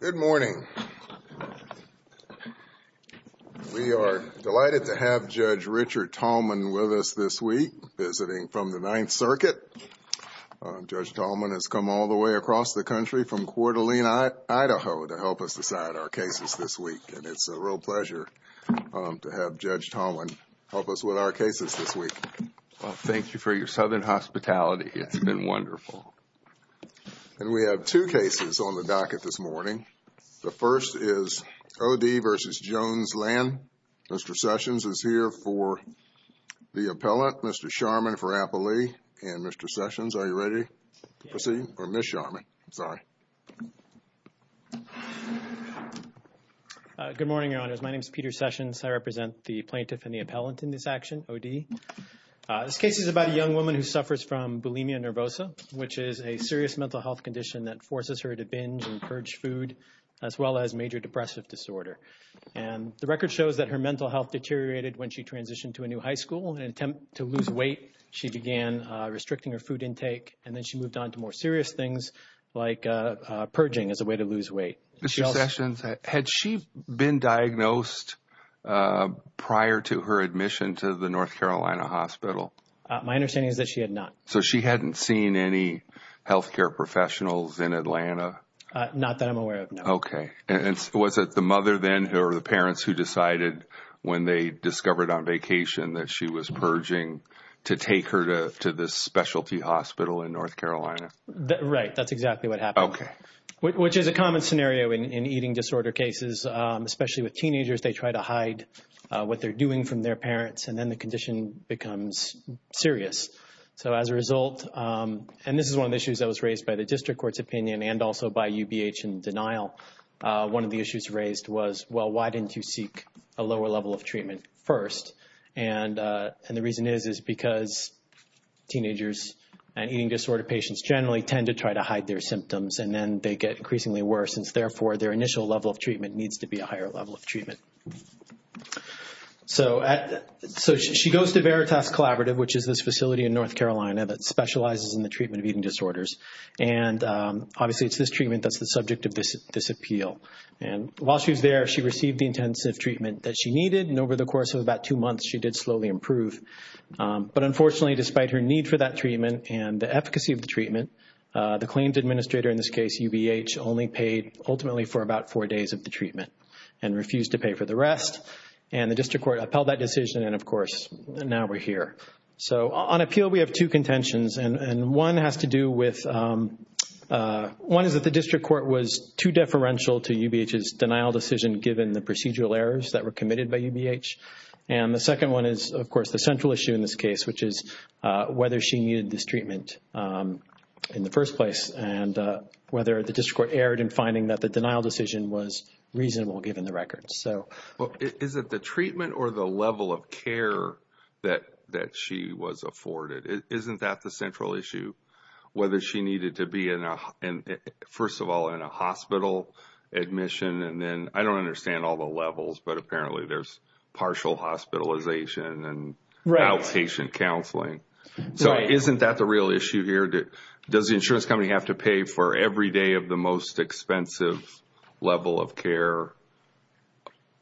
Good morning. We are delighted to have Judge Richard Tallman with us this week, visiting from the Ninth Circuit. Judge Tallman has come all the way across the country from Coeur d'Alene, Idaho, to help us decide our cases this week, and it's a real pleasure to have Judge Tallman help us with our cases this week. Thank you for your southern hospitality. It's been wonderful. And we have two cases on the docket this morning. The first is O.D. v. Jones Lang. Mr. Sessions is here for the appellant, Mr. Sharman for appellee, and Mr. Sessions, are you ready to proceed? Or Ms. Sharman, sorry. Good morning, Your Honors. My name is Peter Sessions. I represent the plaintiff and the appellant in this action, O.D. This case is about a young woman who suffers from bulimia nervosa, which is a serious mental health condition that forces her to binge and purge food, as well as major depressive disorder. And the record shows that her mental health deteriorated when she transitioned to a new high school. In an attempt to lose weight, she began restricting her food intake, and then she moved on to more serious things like purging as a way to lose weight. Mr. Sessions, had she been diagnosed prior to her admission to the North Carolina hospital? My understanding is that she had not. So she hadn't seen any health care professionals in Atlanta? Not that I'm aware of, no. Okay. And was it the mother then or the parents who decided when they discovered on vacation that she was purging to take her to this specialty hospital in North Carolina? Right, that's exactly what happened. Okay. Which is a common scenario in eating disorder cases, especially with teenagers. They try to hide what they're doing from their and then the condition becomes serious. So as a result, and this is one of the issues that was raised by the district court's opinion and also by UBH in denial, one of the issues raised was, well, why didn't you seek a lower level of treatment first? And the reason is, is because teenagers and eating disorder patients generally tend to try to hide their symptoms, and then they get increasingly worse, and therefore their initial level of treatment needs to be a higher level of So she goes to Veritas Collaborative, which is this facility in North Carolina that specializes in the treatment of eating disorders. And obviously it's this treatment that's the subject of this appeal. And while she was there, she received the intensive treatment that she needed, and over the course of about two months, she did slowly improve. But unfortunately, despite her need for that treatment and the efficacy of the treatment, the claims administrator in this case, UBH, only paid ultimately for about four days of the treatment and refused to pay for the rest. And the district court upheld that decision, and of course, now we're here. So on appeal, we have two contentions, and one has to do with, one is that the district court was too deferential to UBH's denial decision given the procedural errors that were committed by UBH. And the second one is, of course, the central issue in this case, which is whether she needed this treatment in the first place and whether the district court erred in finding that the denial decision was reasonable given the records. Is it the treatment or the level of care that she was afforded? Isn't that the central issue, whether she needed to be, first of all, in a hospital admission? And then I don't understand all the levels, but apparently there's partial hospitalization and outpatient counseling. So isn't that the real issue here? Does the insurance company have to pay for every day of the most expensive level of care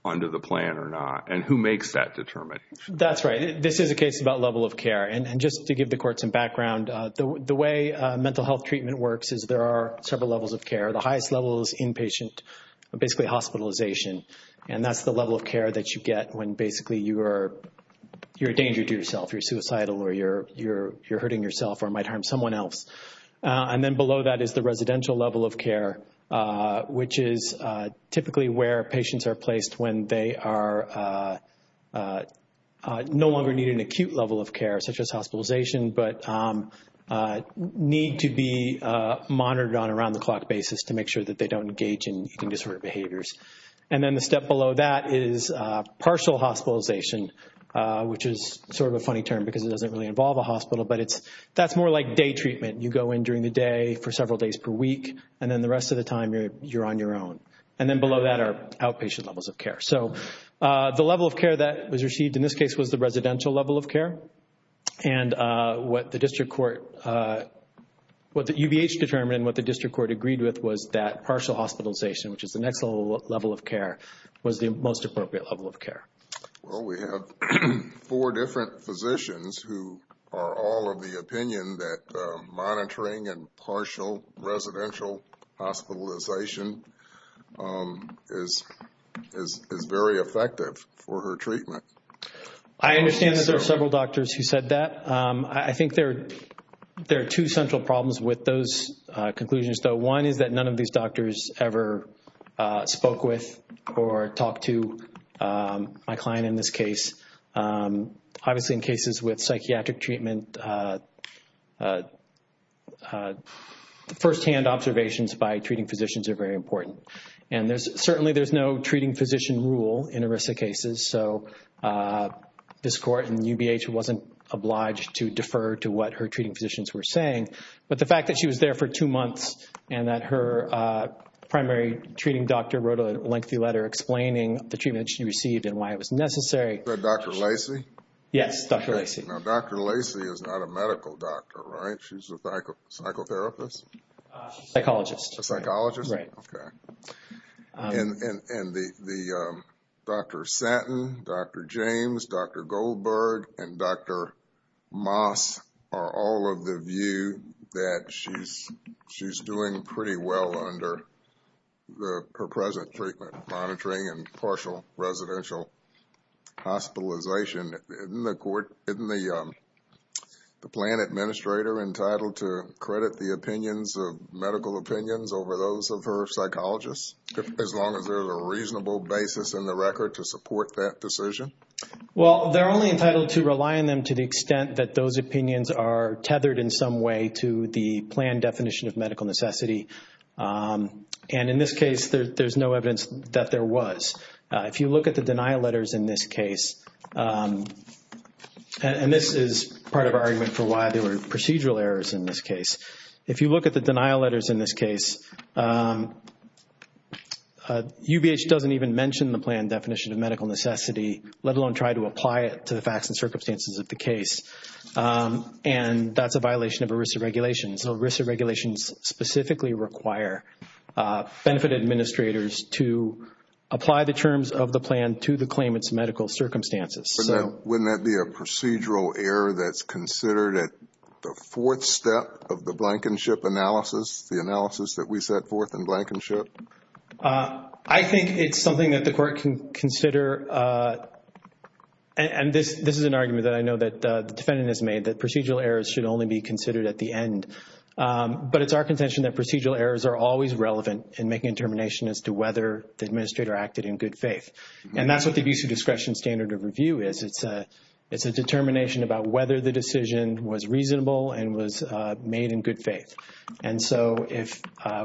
under the plan or not? And who makes that determination? That's right. This is a case about level of care. And just to give the court some background, the way mental health treatment works is there are several levels of care. The highest level is inpatient, basically hospitalization. And that's the level of care that you get when basically you are, you're a danger to yourself. You're suicidal or you're hurting yourself or might harm someone else. And then below that is the residential level of care, which is typically where patients are placed when they are no longer needing acute level of care, such as hospitalization, but need to be monitored on around the clock basis to make sure that they don't engage in eating disorder behaviors. And then the step below that is partial hospitalization, which is sort of a treatment. You go in during the day for several days per week, and then the rest of the time you're on your own. And then below that are outpatient levels of care. So the level of care that was received in this case was the residential level of care. And what the district court, what the UBH determined and what the district court agreed with was that partial hospitalization, which is the next level of care, was the most appropriate level of care. Well, we have four different physicians who are all of the opinion that monitoring and partial residential hospitalization is very effective for her treatment. I understand that there are several doctors who said that. I think there are two central problems with those conclusions, though. One is that none of these doctors ever spoke with or talked to my client in this case. Obviously, in cases with psychiatric treatment, firsthand observations by treating physicians are very important. And certainly there's no treating physician rule in ERISA cases. So this court and UBH wasn't obliged to defer to what her treating physicians were saying. But the fact that she was there for two months and that her primary treating doctor wrote a lengthy letter explaining the treatment she received and why it was necessary. Is that Dr. Lacey? Yes, Dr. Lacey. Now, Dr. Lacey is not a medical doctor, right? She's a psychotherapist? Psychologist. A psychologist? Right. Okay. And Dr. Satin, Dr. James, Dr. Goldberg, and Dr. Moss are all of the view that she's doing pretty well under her present treatment monitoring and partial residential hospitalization. Isn't the plan administrator entitled to credit the opinions of medical opinions over those of her psychologists, as long as there's a reasonable basis in the record to support that decision? Well, they're only entitled to rely on them to the extent that those opinions are medical necessity. And in this case, there's no evidence that there was. If you look at the denial letters in this case, and this is part of our argument for why there were procedural errors in this case. If you look at the denial letters in this case, UBH doesn't even mention the plan definition of medical necessity, let alone try to apply it to the facts and circumstances of the case. And that's a violation of ERISA regulations. ERISA regulations specifically require benefit administrators to apply the terms of the plan to the claimant's medical circumstances. Wouldn't that be a procedural error that's considered at the fourth step of the blankenship analysis, the analysis that we set forth in blankenship? I think it's something that the court can consider. And this is an argument that I know the defendant has made that procedural errors should only be considered at the end. But it's our contention that procedural errors are always relevant in making a determination as to whether the administrator acted in good faith. And that's what the abuse of discretion standard of review is. It's a determination about whether the decision was reasonable and was made in good faith. And so if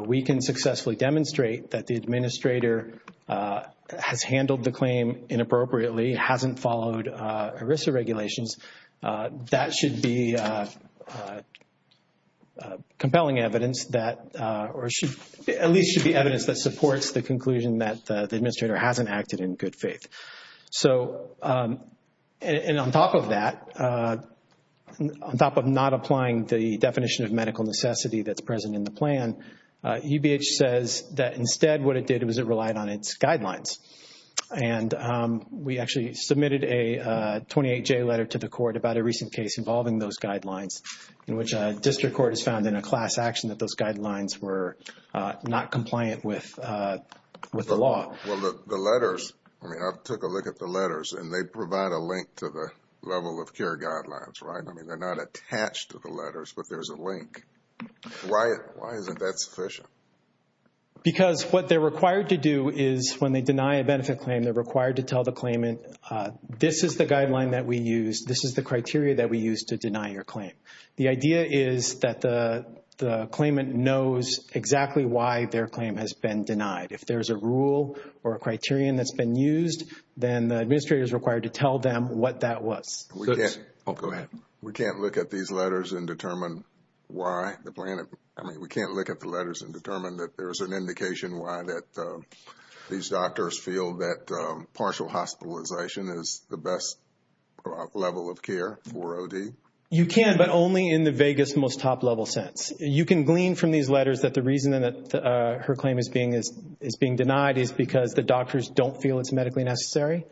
we can successfully demonstrate that the administrator has handled the claim inappropriately, hasn't followed ERISA regulations, that should be compelling evidence that or at least should be evidence that supports the conclusion that the administrator hasn't acted in good faith. And on top of that, on top of not applying the definition of medical necessity that's present in the plan, UBH says that instead what it did was it relied on its guidelines. And we actually submitted a 28J letter to the court about a recent case involving those guidelines in which a district court has found in a class action that those guidelines were not compliant with the law. Well, the letters, I mean, I took a look at the letters and they provide a link to the level of care guidelines, right? I mean, they're not attached to the letters, but there's a link. Why isn't that sufficient? Because what they're required to do is when they deny a benefit claim, they're required to tell the claimant, this is the guideline that we use, this is the criteria that we use to deny your claim. The idea is that the claimant knows exactly why their claim has been denied. If there's a rule or a criterion that's been used, then the administrator is required to tell them what that was. We can't look at these letters and determine why the plan, I mean, we can't look at the letters and determine that there is an indication why that these doctors feel that partial hospitalization is the best level of care for OD. You can, but only in the vaguest, most top level sense. You can glean from these letters that the reason that her claim is being denied is because the doctors don't feel it's medically necessary.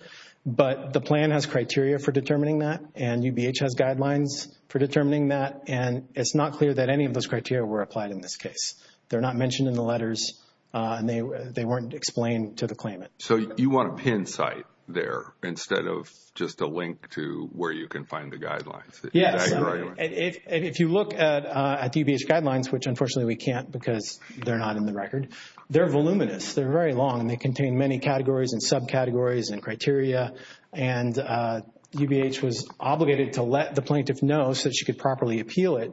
But the plan has criteria for determining that and UBH has guidelines for determining that. And it's not clear that any of those criteria were applied in this case. They're not mentioned in the letters and they weren't explained to the claimant. So you want a pin site there instead of just a link to where you can find the guidelines? Yes. If you look at the UBH guidelines, which unfortunately we can't because they're not in the record, they're voluminous. They're very long and they contain many categories and subcategories and criteria. And UBH was obligated to let the plaintiff know so she could properly appeal it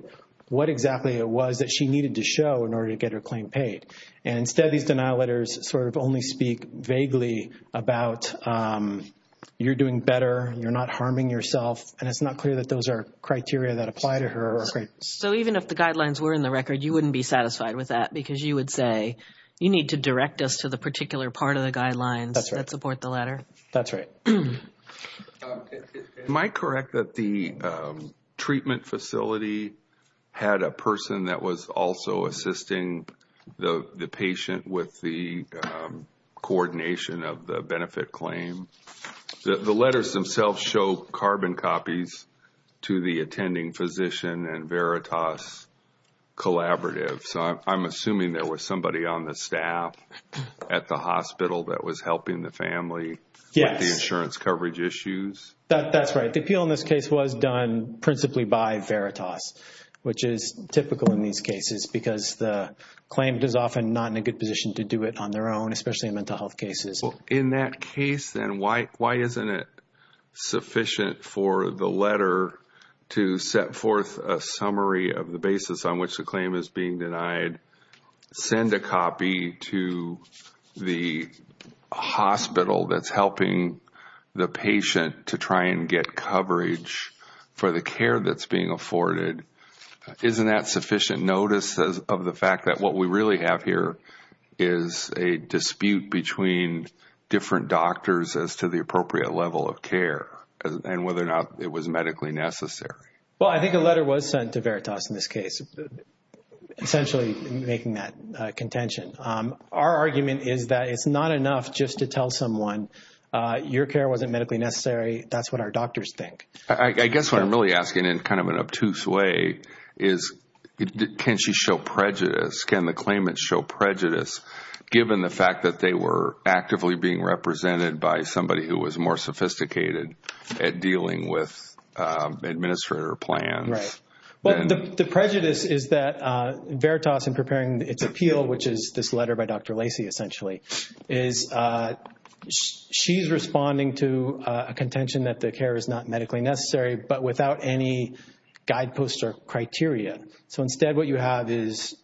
what exactly it was that she needed to show in order to get her claim paid. And instead, these denial letters sort of only speak vaguely about you're doing better, you're not harming yourself, and it's not clear that those are criteria that apply to her. So even if the guidelines were in the record, you wouldn't be satisfied with that because you would say you need to direct us to the particular part of the guidelines that support the letter. That's right. Am I correct that the treatment facility had a person that was also assisting the patient with the coordination of the benefit claim? The letters themselves show carbon copies to the attending physician and Veritas collaborative. So I'm assuming there was somebody on the staff at the hospital that was helping the family with the insurance coverage issues? That's right. The appeal in this case was done principally by Veritas, which is typical in these cases because the claim is often not in a good position to do it on their own, especially in mental health cases. In that case, then why isn't it sufficient for the letter to set forth a summary of the basis on which the claim is being denied, send a copy to the hospital that's helping the patient to try and get coverage for the care that's being afforded? Isn't that sufficient notice of the fact that what we really have here is a dispute between different doctors as to the appropriate level of care and whether or not it was medically necessary? Well, I think a letter was sent to Veritas in this case, essentially making that contention. Our argument is that it's not enough just to tell someone your care wasn't medically necessary. That's what our doctors think. I guess what I'm really asking in kind of an obtuse way is can she show prejudice? Can the claimants show prejudice given the fact that they were actively being represented by somebody who is more sophisticated at dealing with administrator plans? Right. Well, the prejudice is that Veritas in preparing its appeal, which is this letter by Dr. Lacey essentially, is she's responding to a contention that the care is not medically necessary but without any guideposts or criteria. So instead what you have is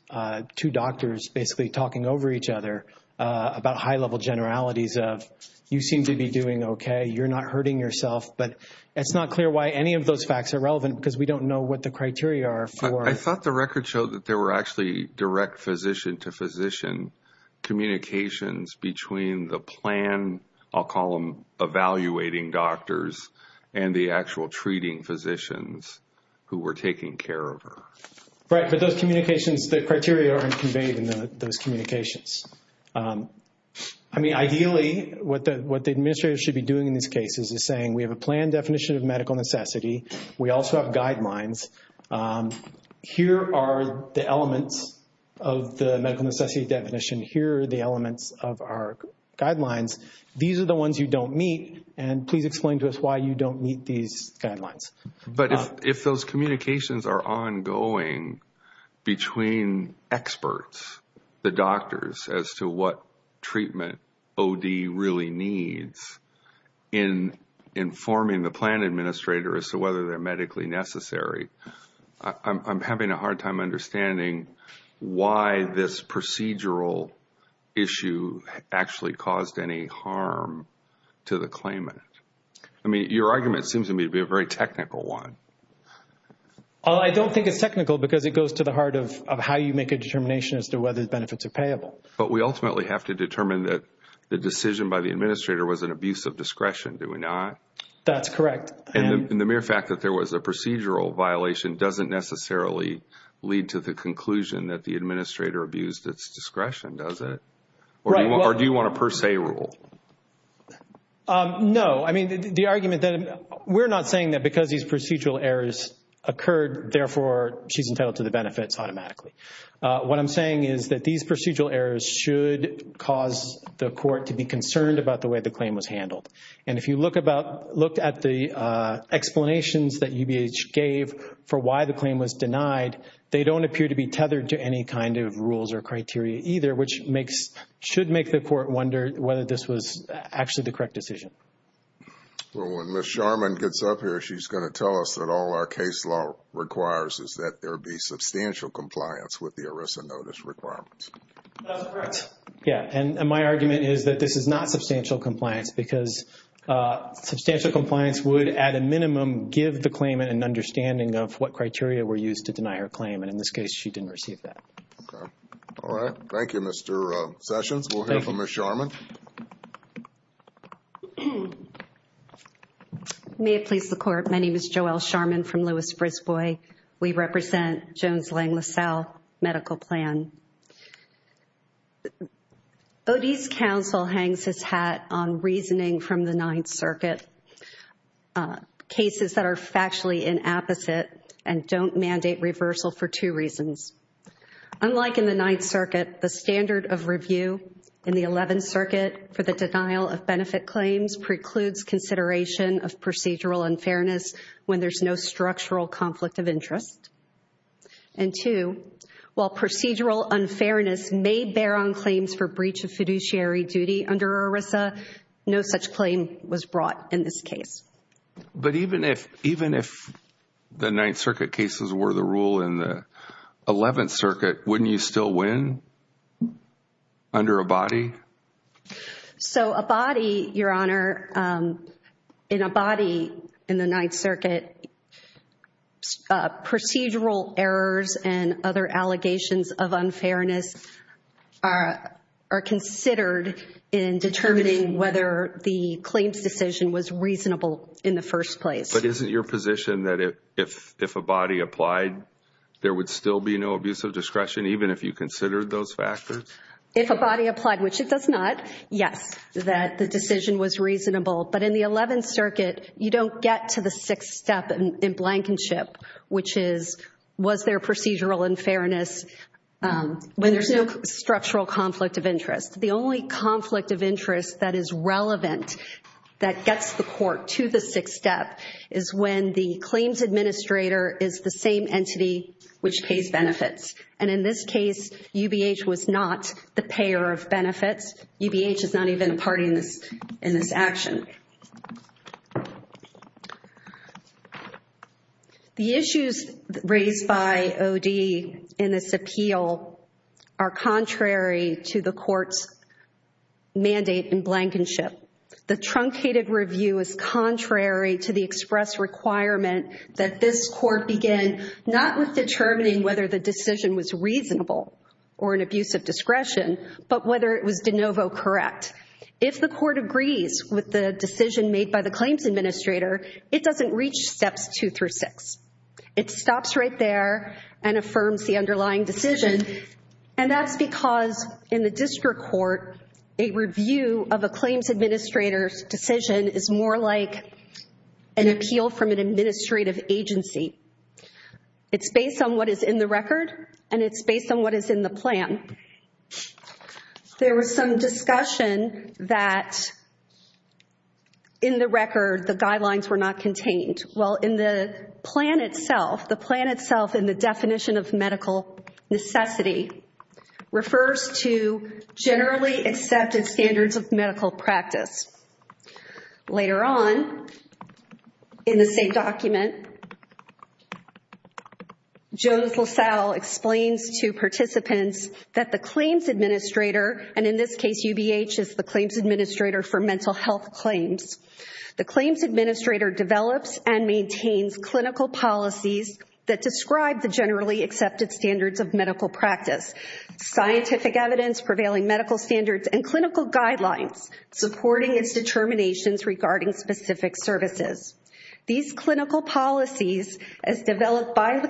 two doctors basically talking over each other about high-level generalities of you seem to be doing okay, you're not hurting yourself, but it's not clear why any of those facts are relevant because we don't know what the criteria are for... I thought the record showed that there were actually direct physician to physician communications between the plan, I'll call them evaluating doctors, and the actual treating physicians who were taking care of her. Right. But those communications, the criteria are conveyed in those communications. I mean, ideally what the administrator should be doing in these cases is saying we have a plan definition of medical necessity. We also have guidelines. Here are the elements of the medical necessity definition. Here are the elements of our guidelines. These are the ones you don't meet and please explain to us why you don't meet these guidelines. But if those communications are ongoing between experts, the doctors, as to what treatment OD really needs in informing the plan administrator as to whether they're medically necessary, I'm having a hard time understanding why this procedural issue actually caused any harm to the claimant. I mean, your argument seems to me to be a very technical one. Well, I don't think it's technical because it goes to the heart of how you make a determination as to whether the benefits are payable. But we ultimately have to determine that the decision by the administrator was an abuse of discretion, do we not? That's correct. And the mere fact that there was a procedural violation doesn't necessarily lead to the conclusion that the administrator abused its discretion, does it? Or do you want a per se rule? No. I mean, the argument that we're not saying that because these procedural errors occurred, therefore, she's entitled to the benefits automatically. What I'm saying is that these procedural errors should cause the court to be concerned about the way the claim was handled. And if you look at the explanations that UBH gave for why the claim was denied, they don't appear to be tethered to any kind of rules or criteria either, which should make the court wonder whether this was actually the correct decision. Well, when Ms. Sharman gets up here, she's going to tell us that all our case law requires is that there be substantial compliance with the ERISA notice requirements. That's correct. Yeah. And my argument is that this is not substantial compliance because substantial compliance would, at a minimum, give the claimant an understanding of what criteria were used to deny her claim. And in this case, she didn't receive that. Okay. All right. Thank you, Mr. Sessions. We'll hear from Ms. Sharman. May it please the court. My name is Joelle Sharman from Louis-Brisbois. We represent Jones-Lang LaSalle Medical Plan. Odie's counsel hangs his hat on reasoning from the Ninth Circuit, cases that are factually inapposite and don't mandate reversal for two reasons. Unlike in the Ninth Circuit, the standard of review in the Eleventh Circuit for the denial of benefit claims precludes consideration of procedural unfairness when there's no structural conflict of interest. And two, while procedural unfairness may bear on claims for this case. But even if the Ninth Circuit cases were the rule in the Eleventh Circuit, wouldn't you still win under Abadie? So, Abadie, Your Honor, in Abadie in the Ninth Circuit, procedural errors and other allegations of unfairness are considered in determining whether the claims decision was reasonable in the first place. But isn't your position that if Abadie applied, there would still be no abuse of discretion, even if you considered those factors? If Abadie applied, which it does not, yes, that the decision was reasonable. But in the Eleventh Circuit, you don't get to the sixth step in blankenship, which is, was there procedural unfairness when there's no structural conflict of interest? The only conflict of interest that is relevant that gets the court to the sixth step is when the claims administrator is the same entity which pays benefits. And in this case, UBH was not the payer of benefits. UBH is not even a party in this action. The issues raised by OD in this appeal are contrary to the court's in blankenship. The truncated review is contrary to the express requirement that this court begin not with determining whether the decision was reasonable or an abuse of discretion, but whether it was de novo correct. If the court agrees with the decision made by the claims administrator, it doesn't reach steps two through six. It stops right there and affirms the of a claims administrator's decision is more like an appeal from an administrative agency. It's based on what is in the record and it's based on what is in the plan. There was some discussion that in the record, the guidelines were not contained. Well, in the plan itself, the plan itself in the definition of medical necessity refers to generally accepted standards of medical practice. Later on in the same document, Jones LaSalle explains to participants that the claims administrator, and in this case, UBH is the claims administrator for mental health claims. The claims administrator develops and maintains clinical policies that describe the generally accepted standards of medical practice. Scientific evidence prevailing medical standards and clinical guidelines supporting its determinations regarding specific services. These clinical policies, as developed by the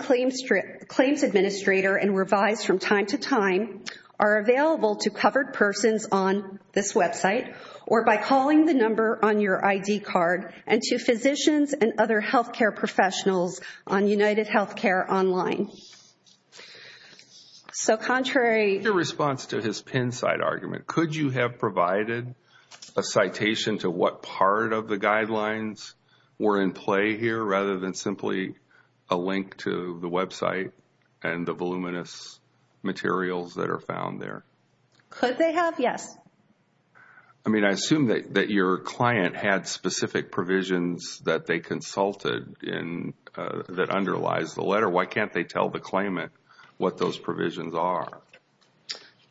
claims administrator and revised from time to time, are available to covered persons on this website or by calling the number on your ID card and to physicians and other health care professionals on UnitedHealthcare online. So contrary to response to his pin side argument, could you have provided a citation to what part of the guidelines were in play here rather than simply a link to the website and the voluminous materials that are found there? Could they have? Yes. I mean, I assume that your client had specific provisions that they consulted in that underlies the letter. Why can't they tell the claimant what those provisions are?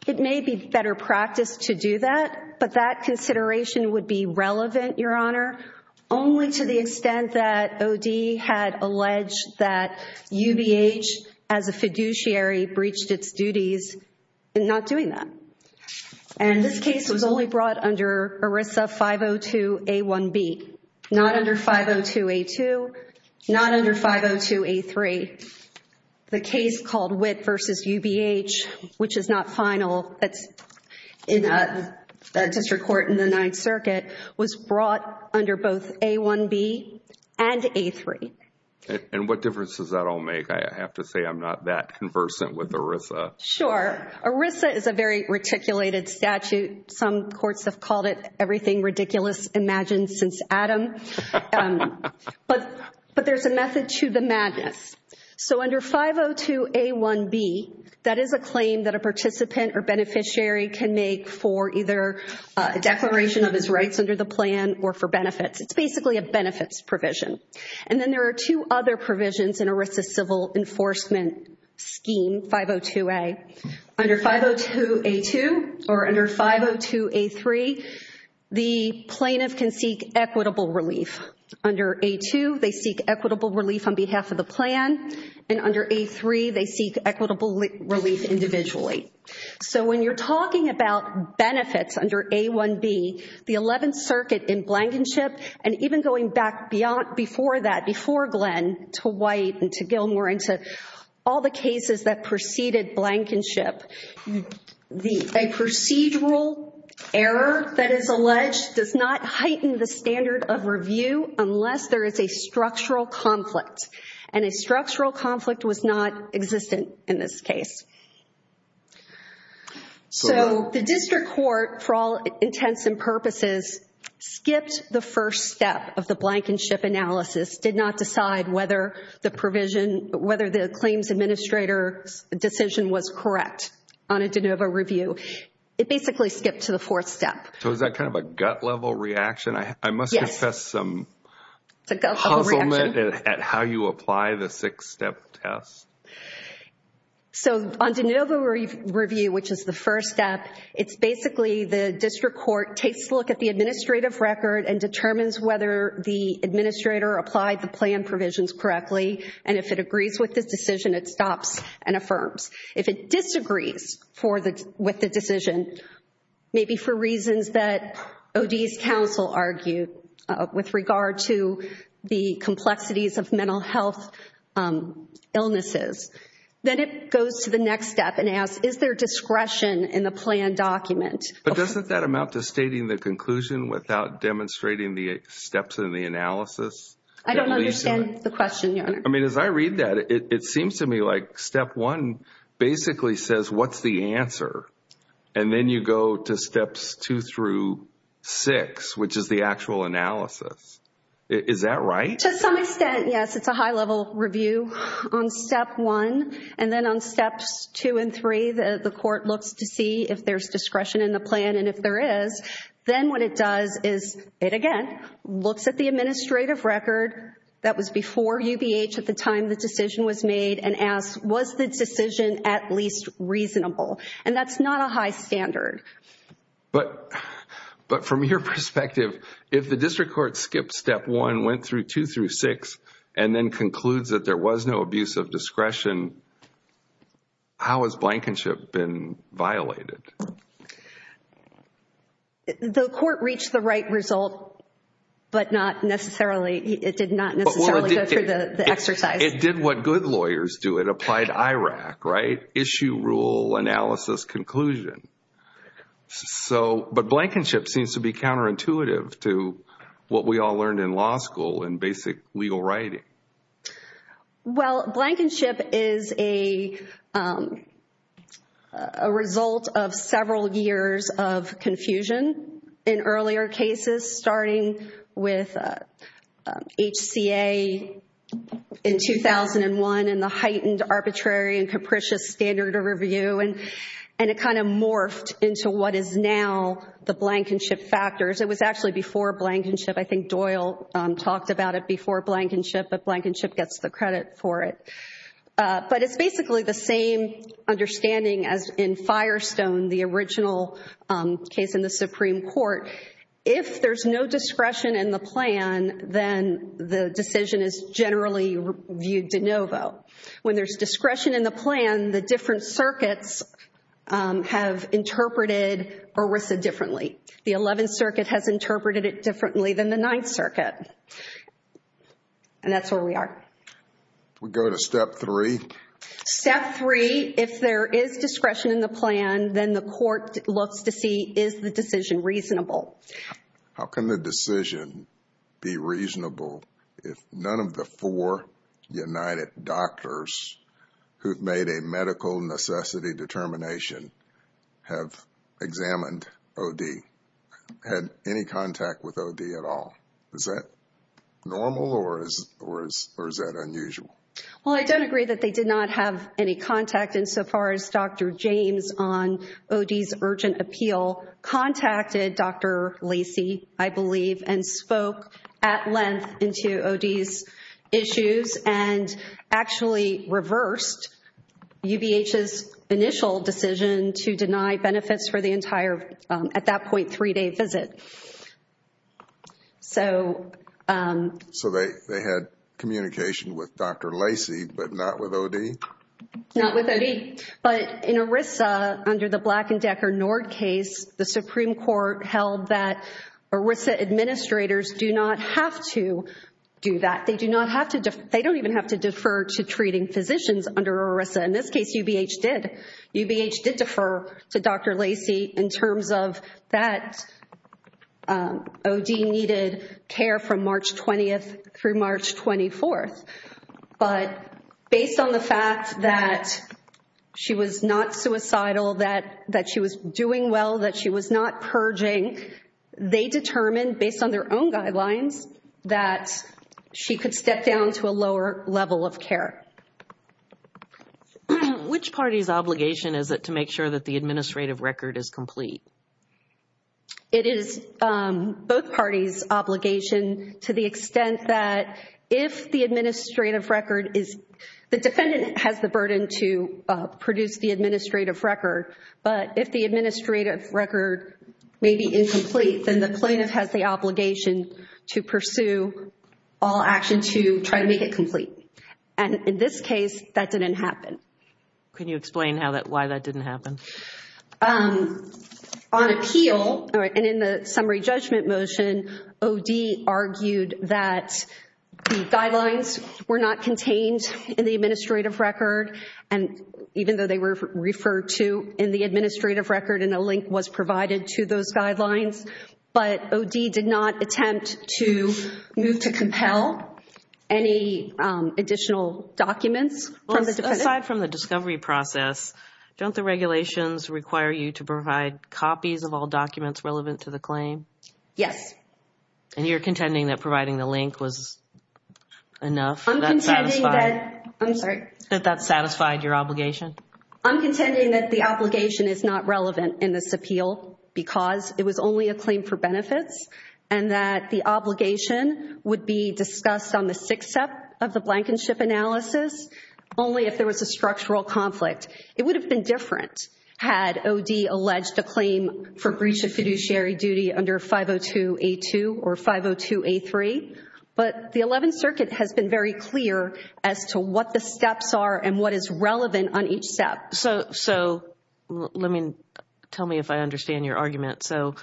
It may be better practice to do that, but that consideration would be relevant, Your Honor, only to the extent that OD had alleged that UBH as a fiduciary breached its duties in not doing that. And this case was only brought under ERISA 502A1B, not under 502A2, not under 502A3. The case called Witt v. UBH, which is not final, that's in a district court in the Ninth Circuit, was brought under both A1B and A3. And what difference does that all make? I have to say I'm not that conversant with ERISA. Sure. ERISA is a very reticulated statute. Some courts have called it everything ridiculous imagined since Adam. But there's a method to the madness. So under 502A1B, that is a claim that a participant or beneficiary can make for either a declaration of his rights under the plan or for benefits. It's basically a benefits provision. And then there are two other provisions in ERISA civil enforcement scheme, 502A. Under 502A2 or under 502A3, the plaintiff can seek equitable relief. Under A2, they seek equitable relief on behalf of the plan. And under A3, they seek equitable relief individually. So when you're talking about benefits under A1B, the Eleventh Circuit in Blankenship, and even going back before that, before Glenn, to White and to Gilmore and to all the cases that preceded Blankenship, a procedural error that is alleged does not heighten the standard of review unless there is a structural conflict. And a structural conflict was not existent in this case. So the district court, for all intents and purposes, skipped the first step of the Blankenship analysis, did not decide whether the provision, whether the claims administrator's decision was correct on a de novo review. It basically skipped to the fourth step. So is that kind of a gut level reaction? I must confess some at how you apply the six-step test. So on de novo review, which is the first step, it's basically the district court takes a look at the administrative record and determines whether the administrator applied the plan provisions correctly. And if it agrees with this decision, it stops and affirms. If it disagrees with the decision, maybe for reasons that OD's counsel argue with regard to the complexities of mental health illnesses. Then it goes to the next step and asks, is there discretion in the plan document? But doesn't that amount to stating the conclusion without demonstrating the steps in the analysis? I don't understand the question. I mean, as I read that, it seems to me like step one basically says, what's the answer? And then you go to steps two through six, which is the actual analysis. Is that right? To some extent, yes. It's a high-level review on step one. And then on steps two and three, the court looks to see if there's discretion in the plan. And if there is, then what it does is, it again, looks at the administrative record that was before UBH at the time the decision was made and asks, was the decision at least reasonable? And that's not a high standard. But from your perspective, if the district court skipped step one, went through two through six, and then concludes that there was no abuse of discretion, how has blankenship been violated? The court reached the right result, but it did not necessarily go through the exercise. It did what good lawyers do. It applied IRAC, right? Issue, rule, analysis, conclusion. But blankenship seems to be counterintuitive to what we all learned in law school and basic legal writing. Well, blankenship is a result of several years of confusion in earlier cases, starting with HCA in 2001 and the heightened arbitrary and capricious standard of review. And it kind of morphed into what is now the blankenship factors. It was actually before blankenship. I think Doyle talked about it before blankenship, but blankenship gets the credit for it. But it's basically the same understanding as in Firestone, the original case in the Supreme Court. If there's no discretion in the plan, then the decision is generally viewed de novo. When there's discretion in the plan, the different circuits have interpreted ERISA differently. The 11th Circuit has interpreted it differently than the 9th Circuit. And that's where we are. We go to step three. Step three, if there is discretion in the plan, then the court looks to see, is the decision reasonable? How can the decision be reasonable if none of the four United Doctors who've made a medical necessity determination have examined OD, had any contact with OD at all? Is that normal or is that unusual? Well, I don't agree that they did not have any contact insofar as Dr. James on OD's urgent appeal contacted Dr. Lacey, I believe, and spoke at length into OD's issues and actually reversed UBH's initial decision to deny benefits for the entire, at that point, three-day visit. So they had communication with Dr. Lacey, but not with OD? Not with OD. But in ERISA, under the Black and Decker Nord case, the Supreme Court held that ERISA administrators do not have to do that. They do not have to, they don't even have to in ERISA. In this case, UBH did. UBH did defer to Dr. Lacey in terms of that OD needed care from March 20th through March 24th. But based on the fact that she was not suicidal, that she was doing well, that she was not purging, they determined based on their own guidelines that she could step down to a lower level of care. Which party's obligation is it to make sure that the administrative record is complete? It is both parties' obligation to the extent that if the administrative record is, the defendant has the burden to produce the administrative record, but if the administrative record may be incomplete, then the plaintiff has the obligation to pursue all action to try to make it complete. And in this case, that didn't happen. Can you explain why that didn't happen? On appeal, and in the summary judgment motion, OD argued that the guidelines were not contained in the administrative record. And even though they were referred to in the administrative record, and a link was provided to those guidelines, but OD did not attempt to move to compel any additional documents from the defendant. Aside from the discovery process, don't the regulations require you to provide copies of all documents relevant to the claim? Yes. And you're contending that providing the link was enough? I'm contending that, I'm sorry. That that satisfied your obligation? I'm contending that the obligation is not relevant in this appeal because it was only a claim for on the sixth step of the blankenship analysis, only if there was a structural conflict. It would have been different had OD alleged a claim for breach of fiduciary duty under 502-A2 or 502-A3, but the Eleventh Circuit has been very clear as to what the steps are and what is relevant on each step. So, let me, tell me if I understand your argument. So,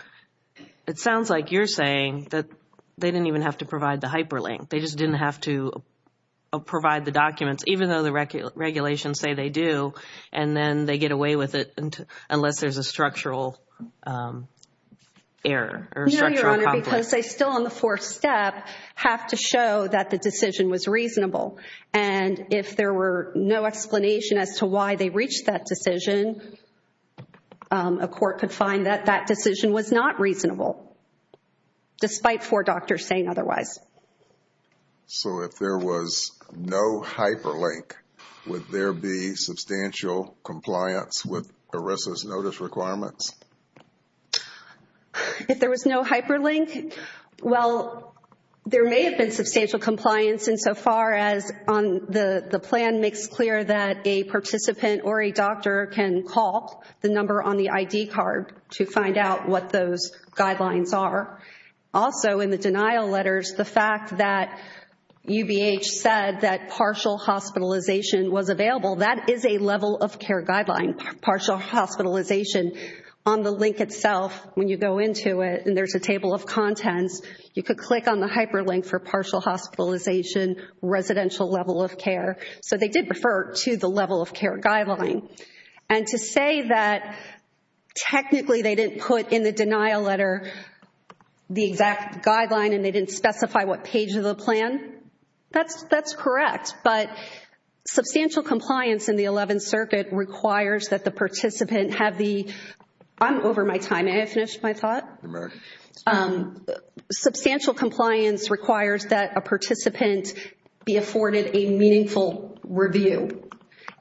it sounds like you're saying that they didn't even have to provide the hyperlink. They just didn't have to provide the documents, even though the regulations say they do, and then they get away with it unless there's a structural error or structural conflict. No, Your Honor, because they still on the fourth step have to show that the decision was reasonable. And if there were no explanation as to why they reached that decision, a court could find that that decision was not reasonable. Despite four doctors saying otherwise. So, if there was no hyperlink, would there be substantial compliance with ERISA's notice requirements? If there was no hyperlink, well, there may have been substantial compliance insofar as on the plan makes clear that a participant or a doctor can call the number on the ID card to find out what those guidelines are. Also, in the denial letters, the fact that UBH said that partial hospitalization was available, that is a level of care guideline, partial hospitalization. On the link itself, when you go into it and there's a table of contents, you could click on the hyperlink for partial hospitalization, residential level of care. So, they did refer to the level of care guideline. And to say that technically they didn't put in the denial letter the exact guideline and they didn't specify what page of the plan, that's correct. But substantial compliance in the Eleventh Circuit requires that the participant have the, I'm over my time. May I finish my thought? Substantial compliance requires that a participant be afforded a meaningful review.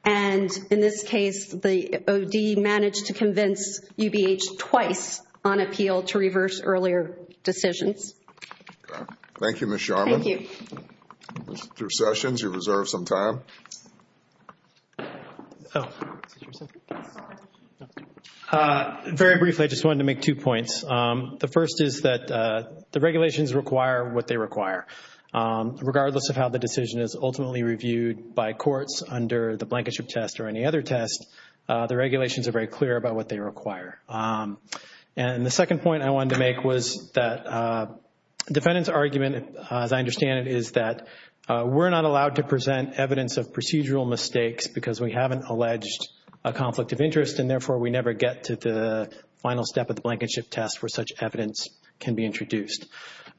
And in this case, the OD managed to convince UBH twice on appeal to reverse earlier decisions. Thank you, Ms. Sharman. Thank you. Mr. Sessions, you reserve some time. Very briefly, I just wanted to make two points. The first is that the regulations require what they require. Regardless of how the decision is ultimately reviewed by courts under the Blankenship Test or any other test, the regulations are very clear about what they require. And the second point I wanted to make was that defendant's argument, as I understand it, is that we're not allowed to present evidence of procedural mistakes because we haven't alleged a conflict of interest and therefore we never get to the final step of the Blankenship Test where such evidence can be introduced.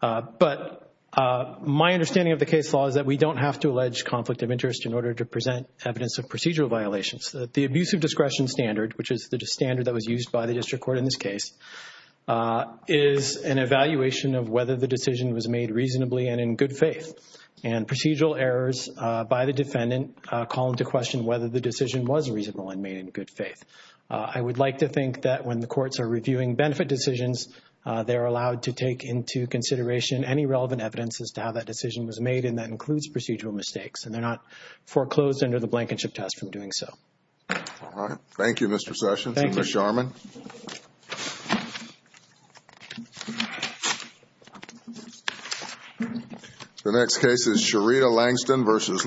But my understanding of the case law is that we don't have to allege conflict of interest in order to present evidence of procedural violations. The abuse of discretion standard, which is the standard that was used by the district court in this case, is an evaluation of whether the decision was made reasonably and in good faith. And procedural errors by the defendant call into question whether the decision was reasonable and made in good faith. I would like to think that when the courts are reviewing benefit decisions, they're allowed to take into consideration any relevant evidence as to how that decision was made. And that includes procedural mistakes. And they're not foreclosed under the Blankenship Test from doing so. All right. Thank you, Mr. Sessions. Thank you, Mr. Sharman. The next case is Sherita Langston versus